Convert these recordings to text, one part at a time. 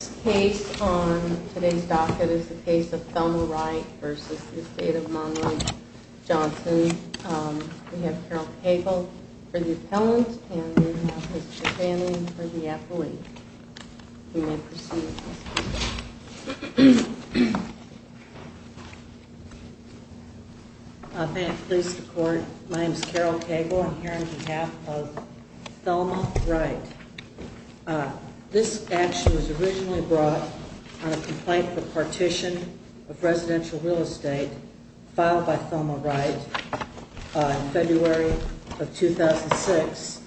This case on today's docket is the case of Thelma Wright v. Estate of Monroe Johnson. We have Carol Cagle for the appellant, and we have Mr. Fanning for the affiliate. You may proceed. Thank you, please support. My name is Carol Cagle. I'm here on behalf of Thelma Wright. This action was originally brought on a complaint for partition of residential real estate filed by Thelma Wright in February of 2006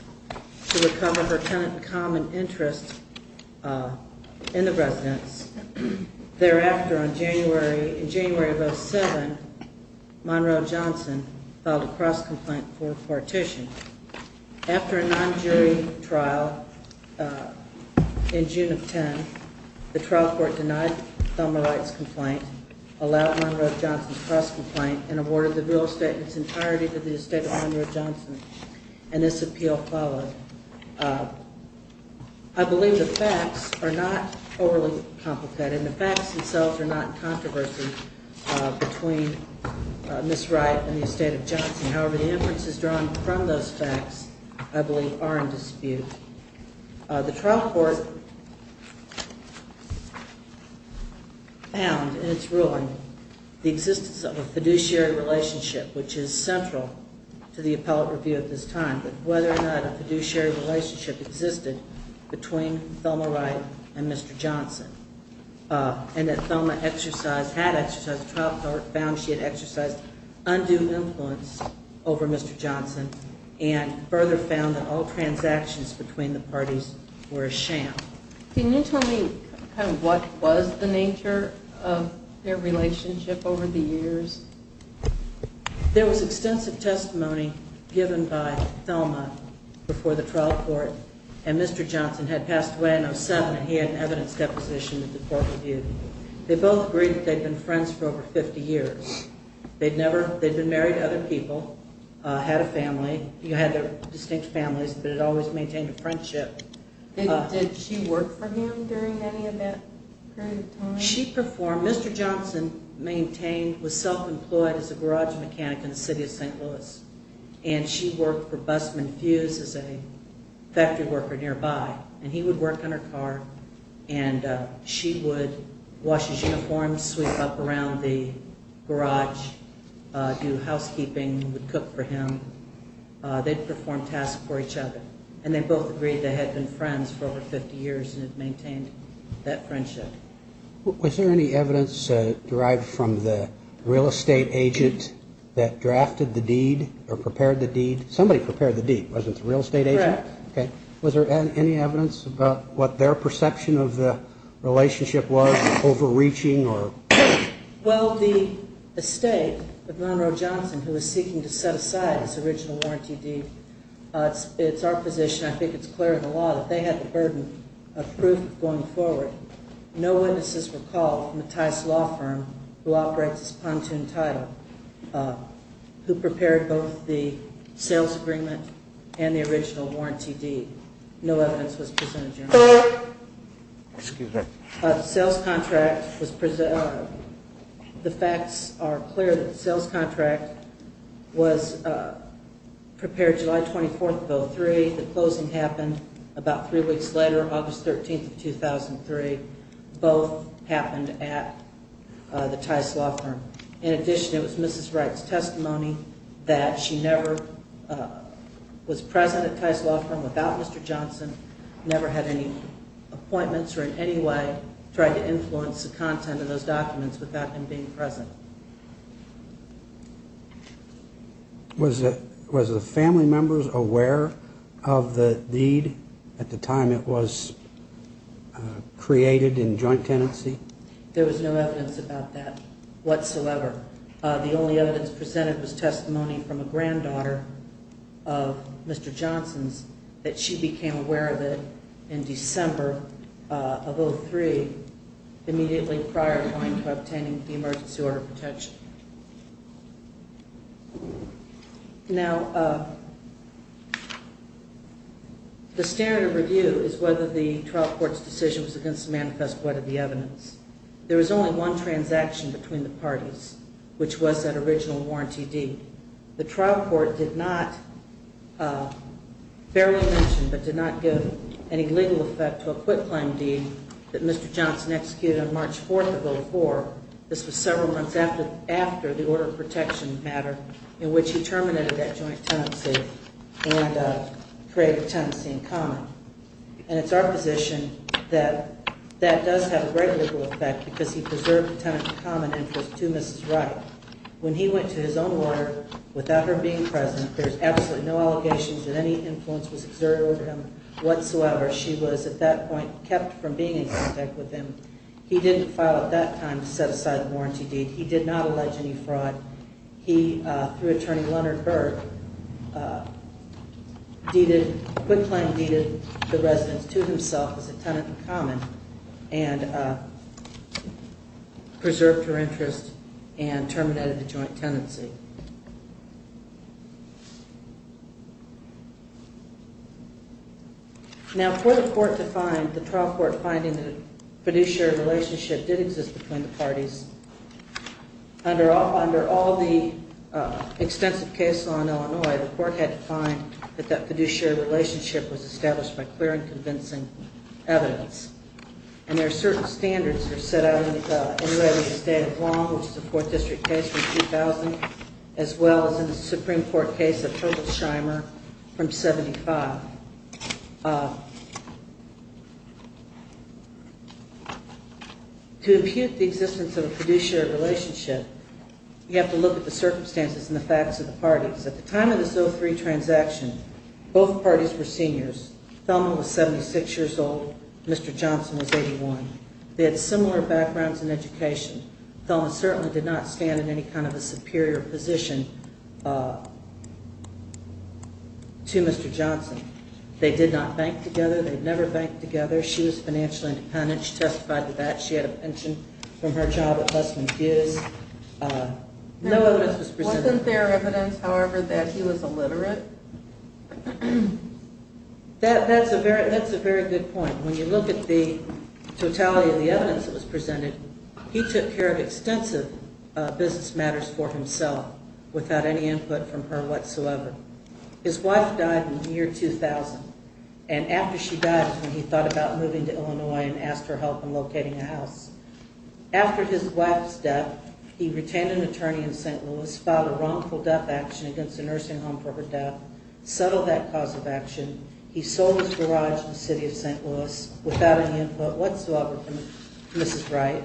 to recover her tenant common interest in the residence. Thereafter, in January of 2007, Monroe Johnson filed a cross-complaint for partition. After a non-jury trial in June of 2010, the trial court denied Thelma Wright's complaint, allowed Monroe Johnson's cross-complaint, and awarded the real estate in its entirety to the Estate of Monroe Johnson. And this appeal followed. I believe the facts are not overly complicated. The facts themselves are not in controversy between Ms. Wright and the Estate of Johnson. However, the inferences drawn from those facts, I believe, are in dispute. The trial court found in its ruling the existence of a fiduciary relationship, which is central to the appellate review at this time, but whether or not a fiduciary relationship existed between Thelma Wright and Mr. Johnson. And that Thelma had exercised, the trial court found she had exercised undue influence over Mr. Johnson and further found that all transactions between the parties were a sham. Can you tell me what was the nature of their relationship over the years? There was extensive testimony given by Thelma before the trial court and Mr. Johnson had passed away in 07 and he had an evidence deposition at the court review. They both agreed that they'd been friends for over 50 years. They'd never, they'd been married to other people, had a family, you had their distinct families, but had always maintained a friendship. Did she work for him during any of that period of time? When she performed, Mr. Johnson maintained, was self-employed as a garage mechanic in the city of St. Louis and she worked for Bussman Fuse as a factory worker nearby. And he would work on her car and she would wash his uniforms, sweep up around the garage, do housekeeping, cook for him. They'd perform tasks for each other and they both agreed they had been friends for over 50 years and had maintained that friendship. Was there any evidence derived from the real estate agent that drafted the deed or prepared the deed? Somebody prepared the deed, wasn't it the real estate agent? Correct. Okay. Was there any evidence about what their perception of the relationship was, overreaching or? Well, the estate of Monroe Johnson, who was seeking to set aside his original warranty deed, it's our position, I think it's clear in the law, that they had the burden of proof of going forward. No witnesses were called from the Tice Law Firm, who operates this pontoon title, who prepared both the sales agreement and the original warranty deed. No evidence was presented, Your Honor. Excuse me. The sales contract was – the facts are clear that the sales contract was prepared July 24th of 2003. The closing happened about three weeks later, August 13th of 2003. Both happened at the Tice Law Firm. In addition, it was Mrs. Wright's testimony that she never was present at Tice Law Firm without Mr. Johnson, never had any appointments or in any way tried to influence the content of those documents without him being present. Was the family members aware of the deed at the time it was created in joint tenancy? There was no evidence about that whatsoever. The only evidence presented was testimony from a granddaughter of Mr. Johnson's that she became aware of it in December of 2003, immediately prior to obtaining the emergency order of protection. Now, the standard of review is whether the trial court's decision was against the manifest, whether the evidence. There was only one transaction between the parties, which was that original warranty deed. The trial court did not – barely mentioned but did not give any legal effect to a quitclaim deed that Mr. Johnson executed on March 4th of 2004. This was several months after the order of protection matter in which he terminated that joint tenancy and created a tenancy in common. And it's our position that that does have a great legal effect because he preserved the tenancy in common interest to Mrs. Wright. When he went to his own order without her being present, there's absolutely no allegations that any influence was exerted on him whatsoever. She was at that point kept from being in contact with him. He didn't file at that time to set aside the warranty deed. He did not allege any fraud. He, through Attorney Leonard Berg, deeded – quitclaim deeded the residence to himself as a tenant in common and preserved her interest and terminated the joint tenancy. Now, for the court to find – the trial court finding that a fiduciary relationship did exist between the parties, under all the extensive case law in Illinois, the court had to find that that fiduciary relationship was established by clear and convincing evidence. And there are certain standards that are set out in the state of Guam, which is a Fourth District case from 2000, as well as in the Supreme Court case of Herbert Scheimer from 75. Now, to impute the existence of a fiduciary relationship, you have to look at the circumstances and the facts of the parties. At the time of this 03 transaction, both parties were seniors. Thelma was 76 years old. Mr. Johnson was 81. They had similar backgrounds in education. Thelma certainly did not stand in any kind of a superior position to Mr. Johnson. They did not bank together. They had never banked together. She was financially independent. She testified to that. She had a pension from her job at Westman Hughes. No evidence was presented. Wasn't there evidence, however, that he was illiterate? That's a very good point. When you look at the totality of the evidence that was presented, he took care of extensive business matters for himself without any input from her whatsoever. His wife died in the year 2000. And after she died, he thought about moving to Illinois and asked her help in locating a house. After his wife's death, he retained an attorney in St. Louis, filed a wrongful death action against a nursing home for her death, settled that cause of action. He sold his garage in the city of St. Louis without any input whatsoever from Mrs. Wright.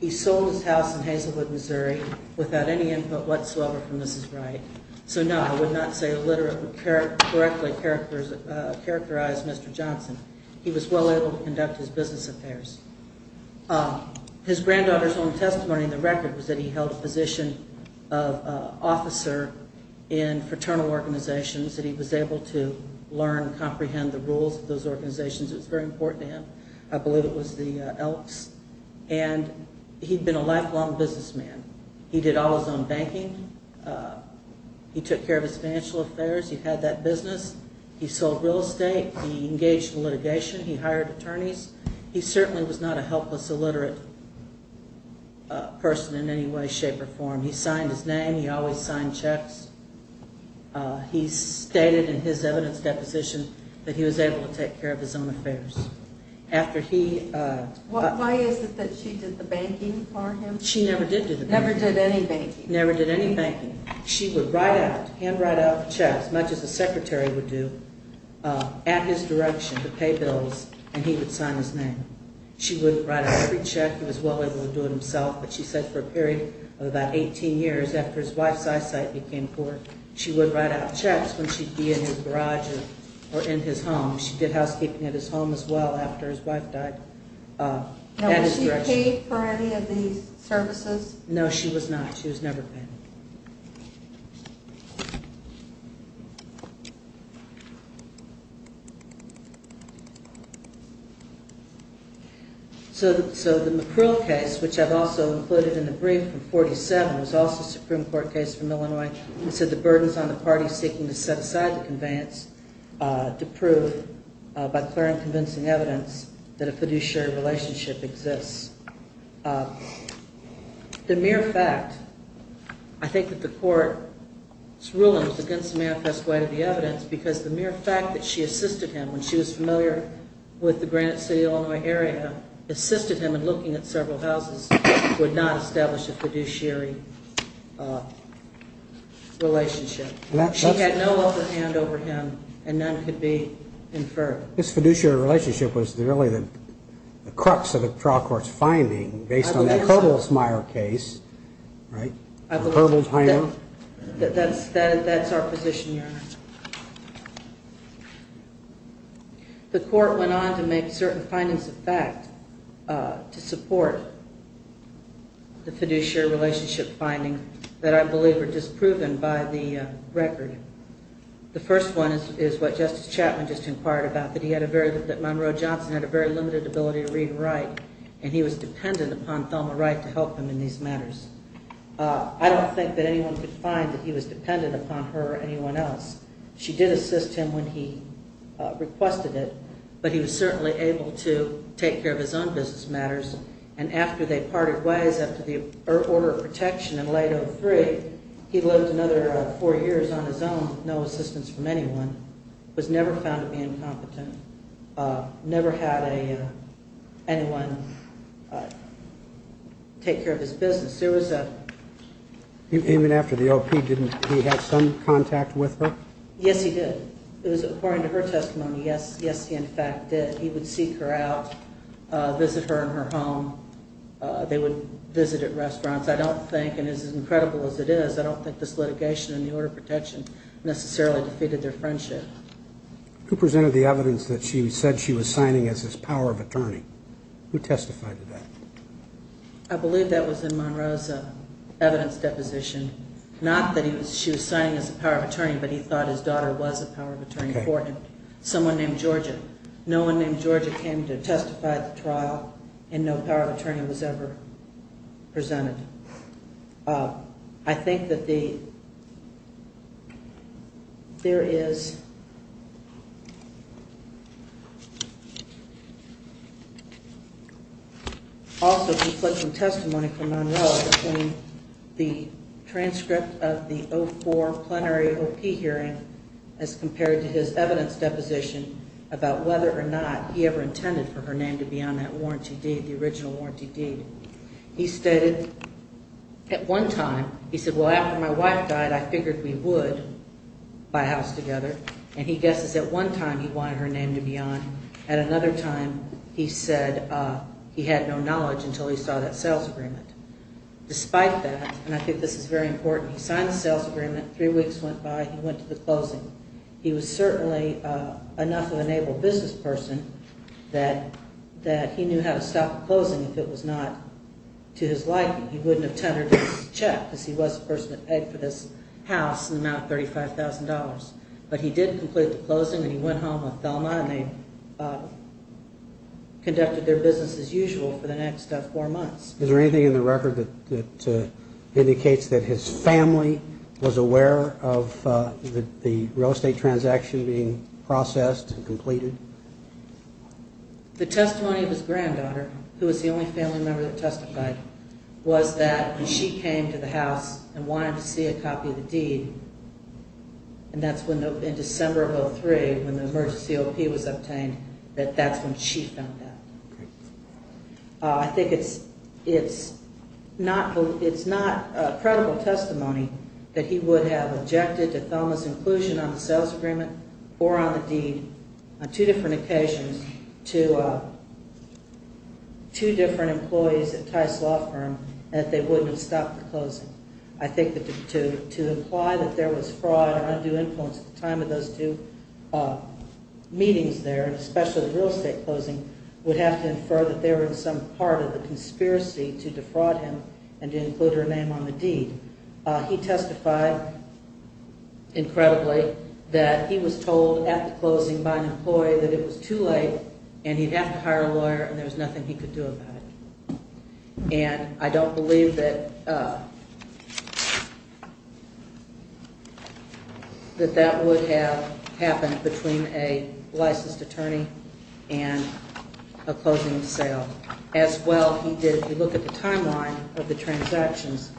He sold his house in Hazelwood, Missouri without any input whatsoever from Mrs. Wright. So, no, I would not say illiterate, but correctly characterized Mr. Johnson. He was well able to conduct his business affairs. His granddaughter's own testimony in the record was that he held a position of officer in fraternal organizations, that he was able to learn and comprehend the rules of those organizations. It was very important to him. I believe it was the Elks. And he'd been a lifelong businessman. He did all his own banking. He took care of his financial affairs. He had that business. He sold real estate. He engaged in litigation. He hired attorneys. He certainly was not a helpless, illiterate person in any way, shape, or form. He signed his name. He always signed checks. He stated in his evidence deposition that he was able to take care of his own affairs. After he... Why is it that she did the banking for him? She never did do the banking. Never did any banking. Never did any banking. She would write out, hand write out checks, much as the secretary would do, at his direction to pay bills, and he would sign his name. She would write out every check. He was well able to do it himself. But she said for a period of about 18 years, after his wife's eyesight became poor, she would write out checks when she'd be in his garage or in his home. She did housekeeping at his home as well after his wife died. Was she paid for any of these services? No, she was not. She was never paid. So the McCruel case, which I've also included in the brief from 47, was also a Supreme Court case from Illinois. It said the burden's on the party seeking to set aside the conveyance to prove by clear and convincing evidence that a fiduciary relationship exists. The mere fact, I think that the court's ruling was against the manifest way of the evidence, because the mere fact that she assisted him, when she was familiar with the Granite City, Illinois area, assisted him in looking at several houses, would not establish a fiduciary relationship. She had no other hand over him, and none could be inferred. This fiduciary relationship was really the crux of the trial court's finding, based on the Kerbels-Meyer case, right? That's our position, Your Honor. The court went on to make certain findings of fact to support the fiduciary relationship finding that I believe were disproven by the record. The first one is what Justice Chapman just inquired about, that Monroe Johnson had a very limited ability to read and write, and he was dependent upon Thelma Wright to help him in these matters. I don't think that anyone could find that he was dependent upon her or anyone else. She did assist him when he requested it, but he was certainly able to take care of his own business matters, and after they parted ways, after the order of protection in late 2003, he lived another four years on his own, with no assistance from anyone, was never found to be incompetent, never had anyone take care of his business. Even after the O.P., didn't he have some contact with her? Yes, he did. It was according to her testimony, yes, he in fact did. He would seek her out, visit her in her home. They would visit at restaurants. I don't think, and as incredible as it is, I don't think this litigation and the order of protection necessarily defeated their friendship. Who presented the evidence that she said she was signing as his power of attorney? Who testified to that? I believe that was in Monroe's evidence deposition. Not that she was signing as a power of attorney, but he thought his daughter was a power of attorney for him. Someone named Georgia. No one named Georgia came to testify at the trial, and no power of attorney was ever presented. I think that there is also conflicting testimony from Monroe between the transcript of the 2004 plenary O.P. hearing as compared to his evidence deposition about whether or not he ever intended for her name to be on that warranty deed, the original warranty deed. He stated at one time, he said, well, after my wife died, I figured we would buy a house together, and he guesses at one time he wanted her name to be on. At another time, he said he had no knowledge until he saw that sales agreement. Despite that, and I think this is very important, he signed the sales agreement. Three weeks went by. He went to the closing. He was certainly enough of an able business person that he knew how to stop the closing if it was not to his liking. He wouldn't have tendered his check, because he was the person that paid for this house in the amount of $35,000. But he did complete the closing, and he went home with Thelma, and they conducted their business as usual for the next four months. Is there anything in the record that indicates that his family was aware of the real estate transaction being processed and completed? The testimony of his granddaughter, who was the only family member that testified, was that when she came to the house and wanted to see a copy of the deed, and that's in December of 2003 when the emergency O.P. was obtained, that that's when she found out. I think it's not credible testimony that he would have objected to Thelma's inclusion on the sales agreement or on the deed on two different occasions to two different employees at Tice Law Firm, and that they wouldn't have stopped the closing. I think that to imply that there was fraud or undue influence at the time of those two meetings there, and especially the real estate closing, would have to infer that they were in some part of the conspiracy to defraud him and to include her name on the deed. He testified incredibly that he was told at the closing by an employee that it was too late and he'd have to hire a lawyer and there was nothing he could do about it. And I don't believe that that would have happened between a licensed attorney and a closing of sale. As well, he did, if you look at the timeline of the transactions,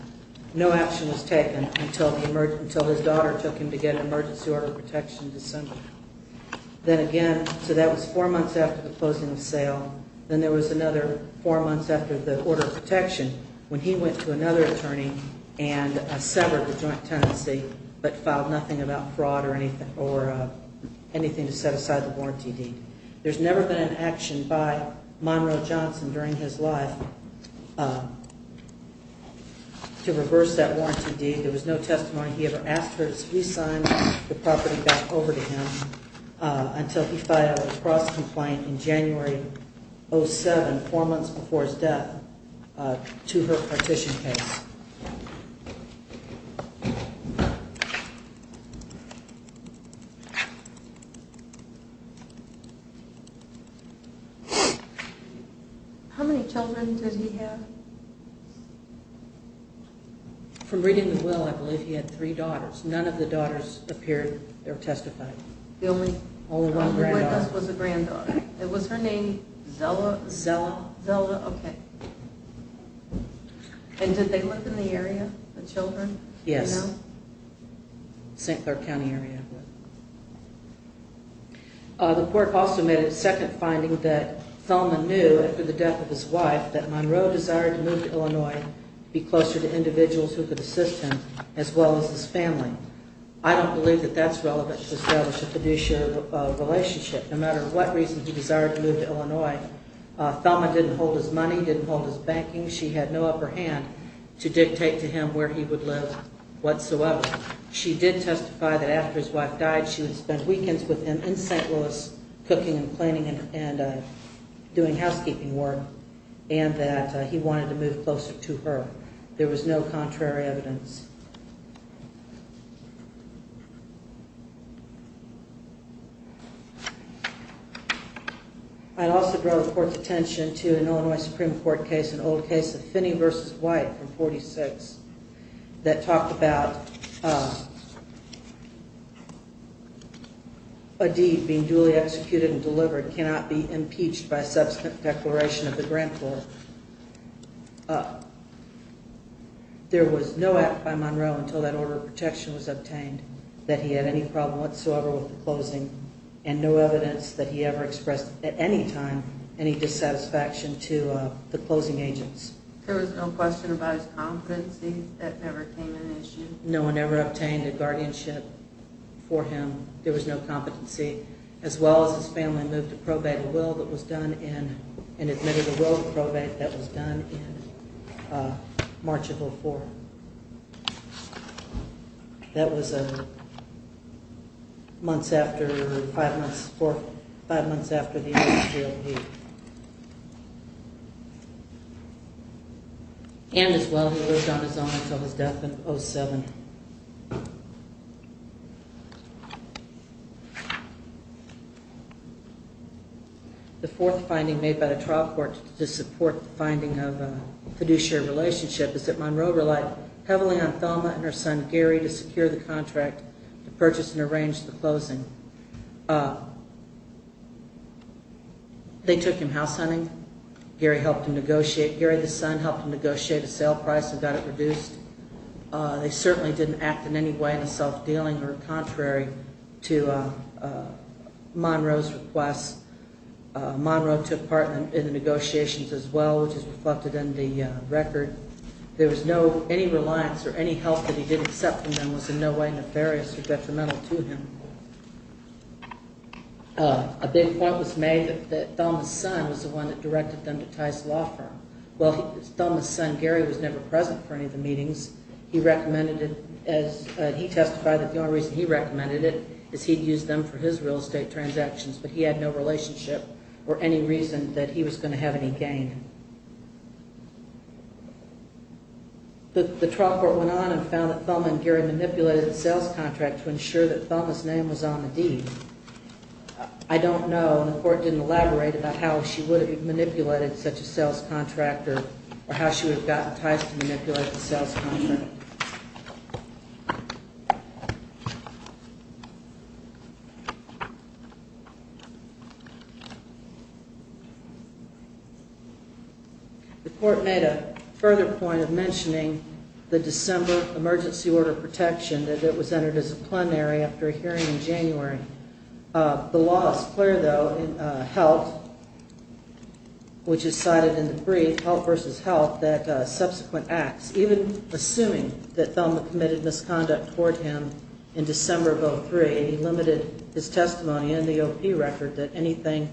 no action was taken until his daughter took him to get an emergency order of protection in December. Then again, so that was four months after the closing of sale, then there was another four months after the order of protection when he went to another attorney and severed the joint tenancy but filed nothing about fraud or anything to set aside the warranty deed. There's never been an action by Monroe Johnson during his life to reverse that warranty deed. There was no testimony he ever asked for. We signed the property back over to him until he filed a cross-complaint in January of 2007, four months before his death, to her partition case. How many children did he have? From reading the will, I believe he had three daughters. None of the daughters appeared or testified. The only witness was a granddaughter. It was her name, Zella? Zella. Zella, okay. And did they live in the area, the children? Yes. St. Clair County area. The court also made a second finding that Thelma knew after the death of his wife that Monroe desired to move to Illinois to be closer to individuals who could assist him as well as his family. I don't believe that that's relevant to establish a fiduciary relationship. No matter what reason he desired to move to Illinois, Thelma didn't hold his money, didn't hold his banking. She had no upper hand to dictate to him where he would live whatsoever. She did testify that after his wife died, she would spend weekends with him in St. Louis, cooking and cleaning and doing housekeeping work, and that he wanted to move closer to her. There was no contrary evidence. I'd also draw the court's attention to an Illinois Supreme Court case, an old case of Finney v. White from 1946, that talked about a deed being duly executed and delivered that cannot be impeached by subsequent declaration of the grant for. There was no act by Monroe until that order of protection was obtained that he had any problem whatsoever with the closing, and no evidence that he ever expressed at any time any dissatisfaction to the closing agents. There was no question about his competency. That never came an issue. No one ever obtained a guardianship for him. There was no competency. As well as his family moved to probate a will that was done in, and admitted a will to probate that was done in March of 04. That was months after, five months after the end of GLP. And as well, he lived on his own until his death in 07. The fourth finding made by the trial court to support the finding of a fiduciary relationship is that Monroe relied heavily on Thelma and her son Gary to secure the contract to purchase and arrange the closing. They took him house hunting. Gary helped him negotiate. Gary, the son, helped him negotiate a sale price and got it reduced. They certainly didn't act in any way in a self-dealing or contrary to Monroe's requests. Monroe took part in the negotiations as well, which is reflected in the record. There was no, any reliance or any help that he did accept from them was in no way nefarious or detrimental to him. A big point was made that Thelma's son was the one that directed them to Tice Law Firm. While Thelma's son Gary was never present for any of the meetings, he recommended it as, he testified that the only reason he recommended it is he'd use them for his real estate transactions, but he had no relationship or any reason that he was going to have any gain. The trial court went on and found that Thelma and Gary manipulated the sales contract to ensure that Thelma's name was on the deed. I don't know, and the court didn't elaborate about how she would have manipulated such a sales contract or how she would have gotten Tice to manipulate the sales contract. The court made a further point of mentioning the December emergency order of protection that was entered as a plenary after a hearing in January. The law is clear, though, in HELP, which is cited in the brief, HELP v. HELP, that subsequent acts, even assuming that Thelma committed misconduct toward him in December of 2003, he limited his testimony in the OP record that anything,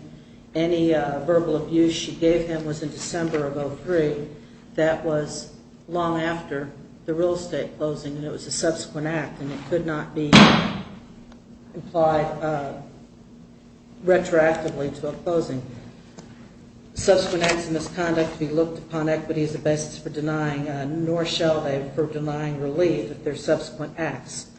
any verbal abuse she gave him was in December of 2003. That was long after the real estate closing, and it was a subsequent act, and it could not be implied retroactively to a closing. Subsequent acts of misconduct to be looked upon equitably as a basis for denying, nor shall they for denying relief if they're subsequent acts.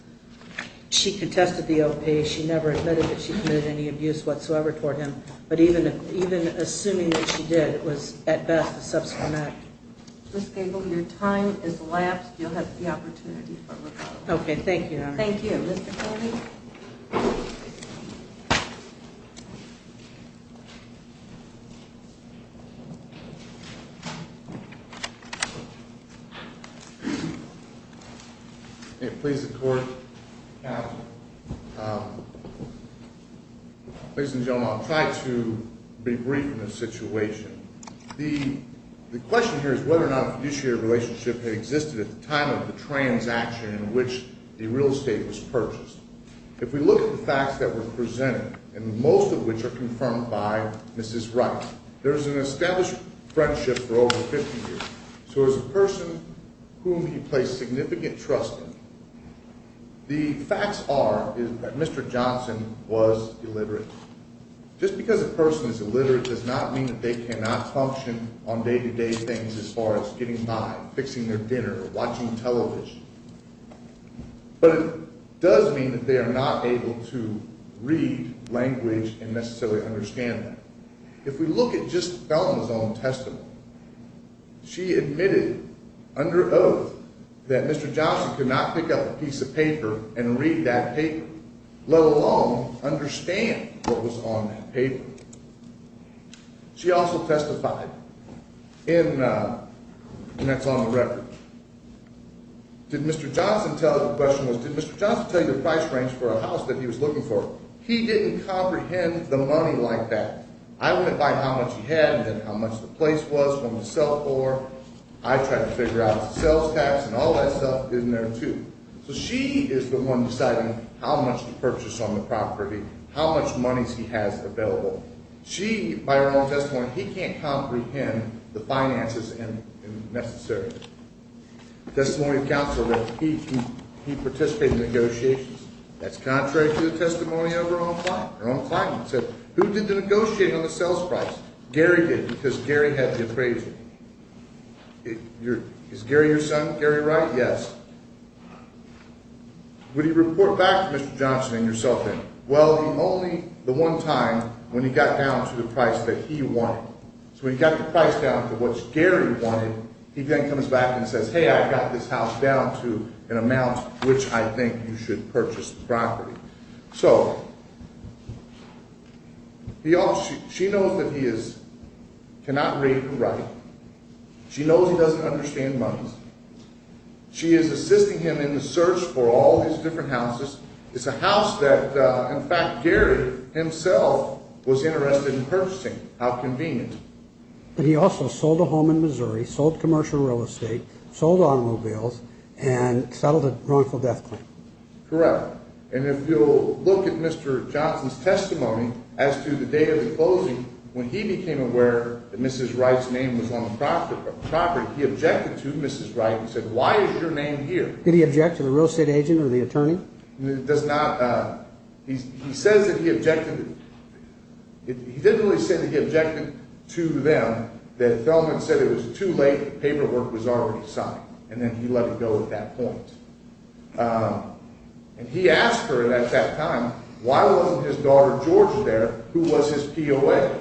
She contested the OP. She never admitted that she committed any abuse whatsoever toward him, but even assuming that she did, it was, at best, a subsequent act. Ms. Gable, your time has elapsed. You'll have the opportunity for rebuttal. Okay. Thank you, Your Honor. Thank you. Mr. Colby. Please, the Court. Ladies and gentlemen, I'll try to be brief in this situation. The question here is whether or not a fiduciary relationship had existed at the time of the transaction in which the real estate was purchased. If we look at the facts that were presented, and most of which are confirmed by Mrs. Wright, there's an established friendship for over 50 years. So as a person whom he placed significant trust in, the facts are that Mr. Johnson was illiterate. Just because a person is illiterate does not mean that they cannot function on day-to-day things as far as getting by, fixing their dinner, watching television. But it does mean that they are not able to read language and necessarily understand that. If we look at just Felton's own testimony, she admitted under oath that Mr. Johnson could not pick up a piece of paper and read that paper, let alone understand what was on that paper. She also testified, and that's on the record. Did Mr. Johnson tell you the price range for a house that he was looking for? He didn't comprehend the money like that. I went by how much he had and how much the place was, what it was sold for. I tried to figure out if it was sales tax and all that stuff isn't there, too. So she is the one deciding how much to purchase on the property, how much monies he has available. She, by her own testimony, he can't comprehend the finances necessarily. Testimony of counsel, he participated in negotiations. That's contrary to the testimony of her own client. Her own client said, who did the negotiating on the sales price? Gary did because Gary had the appraiser. Is Gary your son? Gary Wright? Yes. Would he report back to Mr. Johnson and yourself then? Well, only the one time when he got down to the price that he wanted. So when he got the price down to what Gary wanted, he then comes back and says, hey, I got this house down to an amount which I think you should purchase the property. So she knows that he cannot read and write. She knows he doesn't understand monies. She is assisting him in the search for all his different houses. It's a house that, in fact, Gary himself was interested in purchasing. How convenient. And he also sold a home in Missouri, sold commercial real estate, sold automobiles, and settled a wrongful death claim. Correct. And if you'll look at Mr. Johnson's testimony as to the date of the closing, when he became aware that Mrs. Wright's name was on the property, he objected to Mrs. Wright and said, why is your name here? Did he object to the real estate agent or the attorney? He does not. He says that he objected. He didn't really say that he objected to them, that Feldman said it was too late, paperwork was already signed, and then he let it go at that point. And he asked her at that time, why wasn't his daughter, Georgia, there, who was his POA?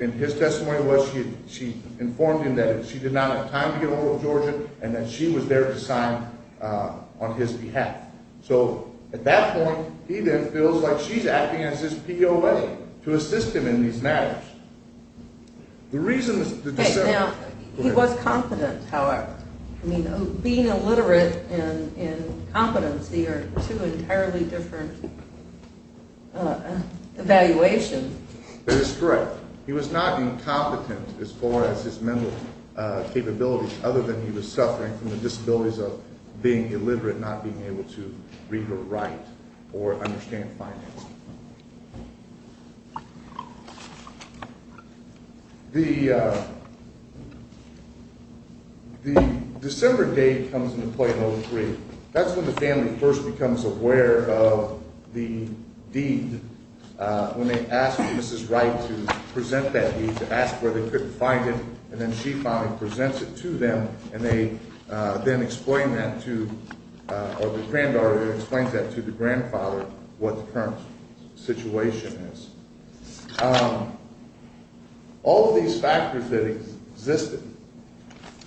And his testimony was she informed him that she did not have time to get ahold of Georgia and that she was there to sign on his behalf. So at that point, he then feels like she's acting as his POA to assist him in these matters. Now, he was competent, however. I mean, being illiterate and competency are two entirely different evaluations. That is correct. He was not incompetent as far as his mental capabilities, other than he was suffering from the disabilities of being illiterate and not being able to read or write or understand finance. The December date comes into play in 03. That's when the family first becomes aware of the deed, when they ask Mrs. Wright to present that deed, to ask where they could find it, and then she finally presents it to them, and they then explain that to – or the granddaughter explains that to the grandfather what the current situation is. All of these factors that existed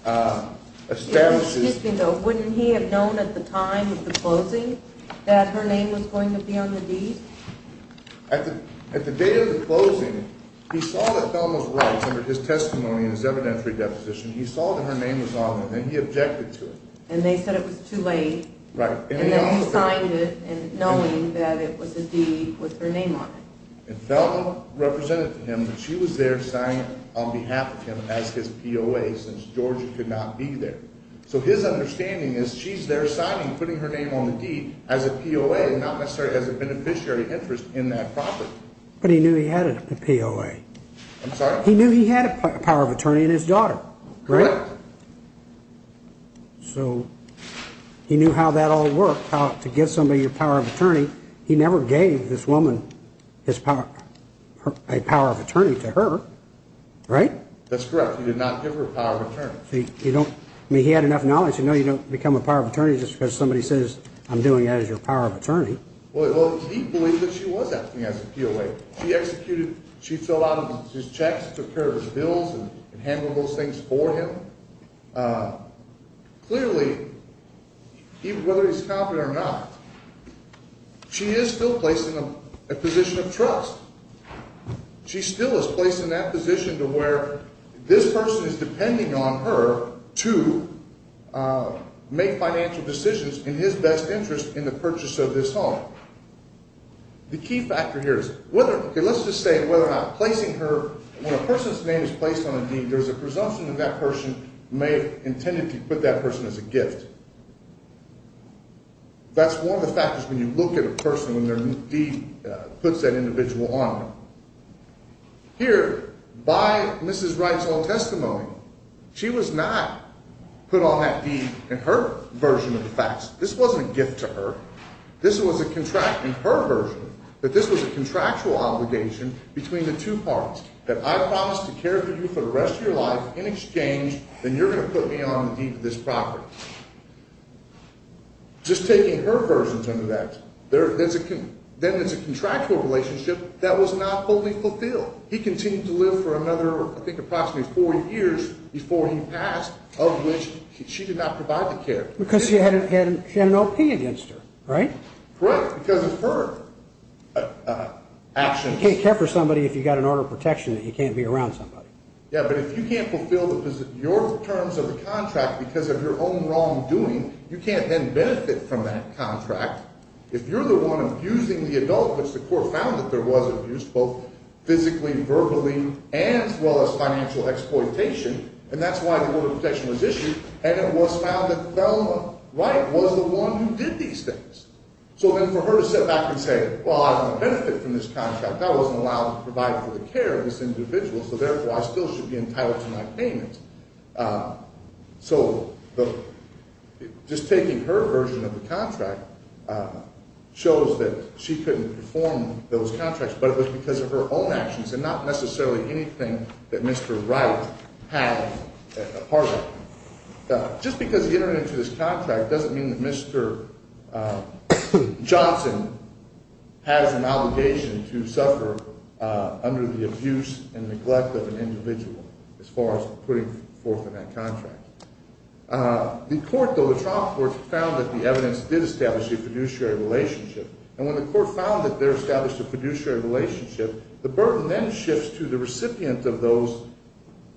establishes – It was interesting, though. Wouldn't he have known at the time of the closing that her name was going to be on the deed? At the date of the closing, he saw that Thelma's rights under his testimony and his evidentiary deposition, he saw that her name was on it, and he objected to it. And they said it was too late. Right. And then he signed it knowing that it was a deed with her name on it. And Thelma represented to him that she was there signing it on behalf of him as his POA since Georgia could not be there. So his understanding is she's there signing, putting her name on the deed as a POA, not necessarily as a beneficiary interest in that property. But he knew he had a POA. I'm sorry? He knew he had a power of attorney in his daughter, right? Correct. So he knew how that all worked, how to get somebody your power of attorney. He never gave this woman a power of attorney to her, right? That's correct. He did not give her a power of attorney. I mean, he had enough knowledge to know you don't become a power of attorney just because somebody says, I'm doing it as your power of attorney. Well, he believed that she was acting as a POA. She executed, she filled out his checks, took care of his bills and handled those things for him. Clearly, whether he's competent or not, she is still placed in a position of trust. She still is placed in that position to where this person is depending on her to make financial decisions in his best interest in the purchase of this home. The key factor here is whether, okay, let's just say whether or not placing her, when a person's name is placed on a deed, there's a presumption that that person may have intended to put that person as a gift. That's one of the factors when you look at a person when their deed puts that individual on them. Here, by Mrs. Wright's own testimony, she was not put on that deed in her version of the facts. This wasn't a gift to her. This was a contract in her version that this was a contractual obligation between the two parts. If I promise to care for you for the rest of your life in exchange, then you're going to put me on the deed to this property. Just taking her version into that, then it's a contractual relationship that was not fully fulfilled. He continued to live for another, I think, approximately four years before he passed, of which she did not provide the care. Because she had an O.P. against her, right? Correct, because of her actions. You can't care for somebody if you've got an order of protection and you can't be around somebody. Yeah, but if you can't fulfill your terms of the contract because of your own wrongdoing, you can't then benefit from that contract. If you're the one abusing the adult, which the court found that there was abuse, both physically, verbally, as well as financial exploitation, and that's why the order of protection was issued, and it was found that Thelma Wright was the one who did these things. So then for her to sit back and say, well, I don't benefit from this contract. I wasn't allowed to provide for the care of this individual, so therefore I still should be entitled to my payment. So just taking her version of the contract shows that she couldn't perform those contracts, but it was because of her own actions and not necessarily anything that Mr. Wright had a part in. Just because he entered into this contract doesn't mean that Mr. Johnson has an obligation to suffer under the abuse and neglect of an individual, as far as putting forth in that contract. The court, though, the trial court, found that the evidence did establish a fiduciary relationship, and when the court found that there established a fiduciary relationship, the burden then shifts to the recipient of those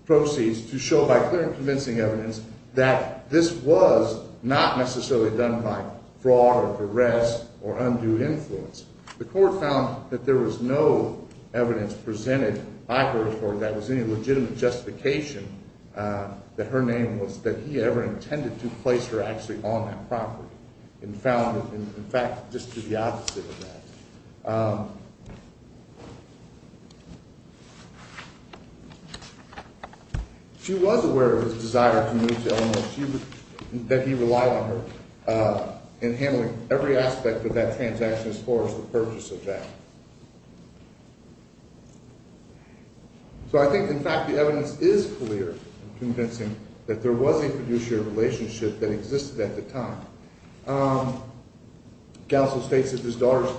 proceeds to show by clear and convincing evidence that this was not necessarily done by fraud or duress or undue influence. The court found that there was no evidence presented by her that was any legitimate justification that her name was – in fact, just to the opposite of that. She was aware of his desire to move to Illinois, that he relied on her in handling every aspect of that transaction as far as the purchase of that. So I think, in fact, the evidence is clear and convincing that there was a fiduciary relationship that existed at the time. The counsel states that his daughters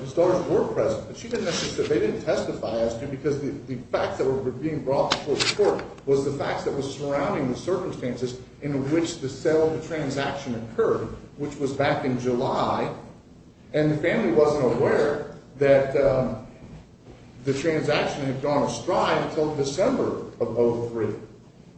were present, but she didn't necessarily – they didn't testify as to him because the facts that were being brought before the court was the facts that were surrounding the circumstances in which the sale of the transaction occurred, which was back in July, and the family wasn't aware that the transaction had gone astray until December of 2003.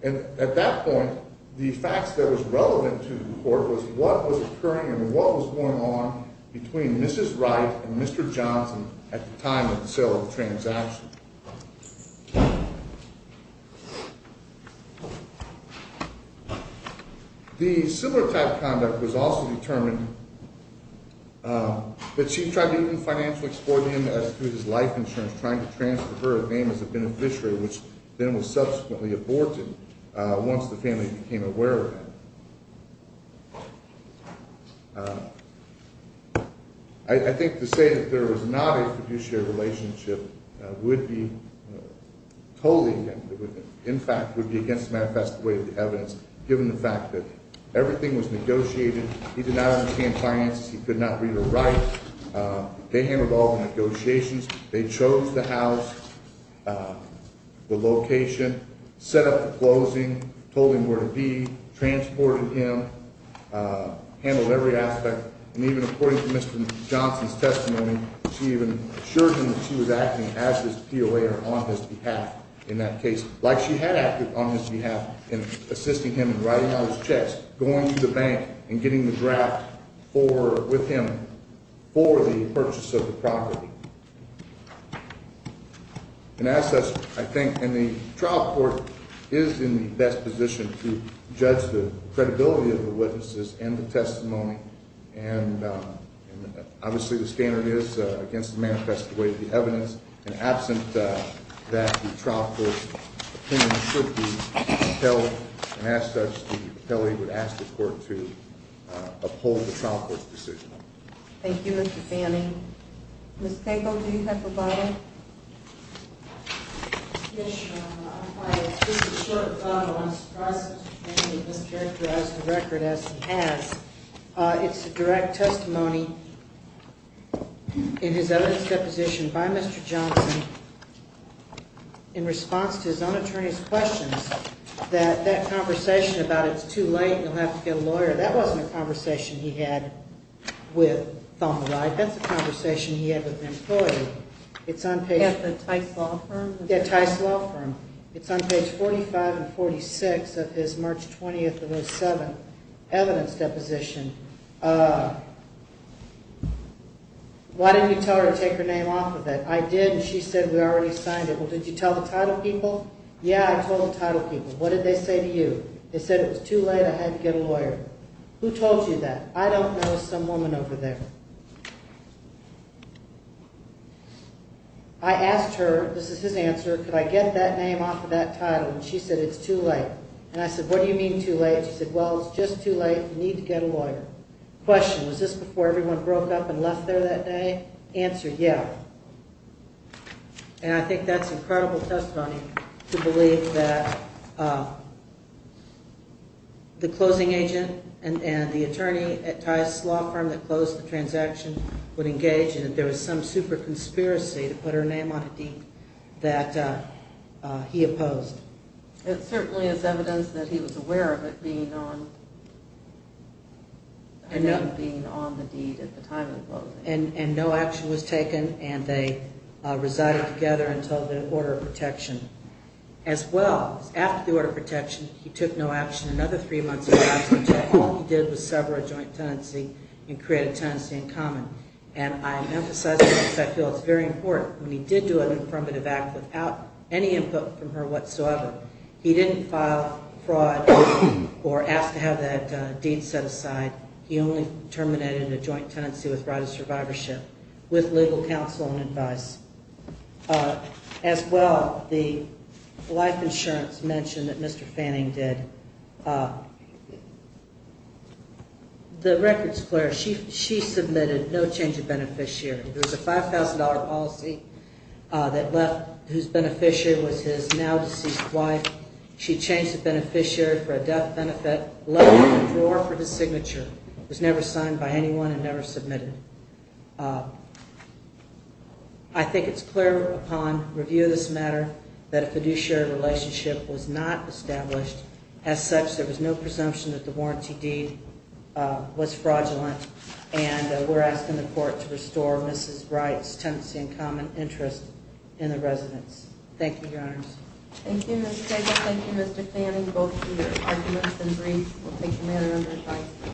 And at that point, the facts that was relevant to the court was what was occurring and what was going on between Mrs. Wright and Mr. Johnson at the time of the sale of the transaction. The similar type of conduct was also determined, but she tried to even financially exploit him through his life insurance, trying to transfer her name as a beneficiary, which then was subsequently aborted once the family became aware of it. I think to say that there was not a fiduciary relationship would be totally – in fact, would be against the manifest way of the evidence, given the fact that everything was negotiated. He did not understand finances. He could not read or write. They handled all the negotiations. They chose the house, the location, set up the closing, told him where to be, transported him, handled every aspect, and even according to Mr. Johnson's testimony, she even assured him that she was acting as his POA or on his behalf in that case, like she had acted on his behalf in assisting him in writing all his checks, going to the bank, and getting the draft with him for the purchase of the property. And as such, I think – and the trial court is in the best position to judge the credibility of the witnesses and the testimony, and obviously the standard is against the manifest way of the evidence, and absent that, the trial court's opinion should be upheld, and as such, the appellee would ask the court to uphold the trial court's decision. Thank you, Mr. Fanning. Ms. Tango, do you have a follow-up? Yes, Your Honor. Just a short follow-up. I'm surprised that Mr. Fanning has characterized the record as he has. It's a direct testimony in his evidence deposition by Mr. Johnson in response to his own attorney's questions, that that conversation about it's too late and he'll have to get a lawyer, that wasn't a conversation he had with Thelma Ride. That's a conversation he had with an employee. It's on page – At the Tice Law Firm? Yes, it was a conversation. Why didn't you tell her to take her name off of it? I did, and she said we already signed it. Well, did you tell the title people? Yeah, I told the title people. What did they say to you? They said it was too late, I had to get a lawyer. Who told you that? I don't know some woman over there. I asked her – this is his answer – could I get that name off of that title, and she said it's too late. And I said, what do you mean too late? She said, well, it's just too late, you need to get a lawyer. Question, was this before everyone broke up and left there that day? Answer, yeah. And I think that's incredible testimony to believe that the closing agent and the attorney at Tice Law Firm that closed the transaction would engage in it. There was some super conspiracy to put her name on a deed that he opposed. It certainly is evidence that he was aware of it being on the deed at the time of the closing. And no action was taken, and they resided together until the order of protection. As well, after the order of protection, he took no action another three months or so until all he did was sever a joint tenancy and create a tenancy in common. And I emphasize this because I feel it's very important. When he did do an affirmative act without any input from her whatsoever, he didn't file fraud or ask to have that deed set aside. He only terminated a joint tenancy with right of survivorship, with legal counsel and advice. As well, the life insurance mention that Mr. Fanning did. The records, Claire, she submitted no change of beneficiary. There was a $5,000 policy that left whose beneficiary was his now deceased wife. She changed the beneficiary for a death benefit, left a drawer for his signature. It was never signed by anyone and never submitted. I think it's clear upon review of this matter that a fiduciary relationship was not established. As such, there was no presumption that the warranty deed was fraudulent. And we're asking the court to restore Mrs. Wright's tenancy in common interest in the residence. Thank you, Your Honors. Thank you, Ms. Stegall. Thank you, Mr. Fanning, both for your arguments and brief. We'll take the matter under advice.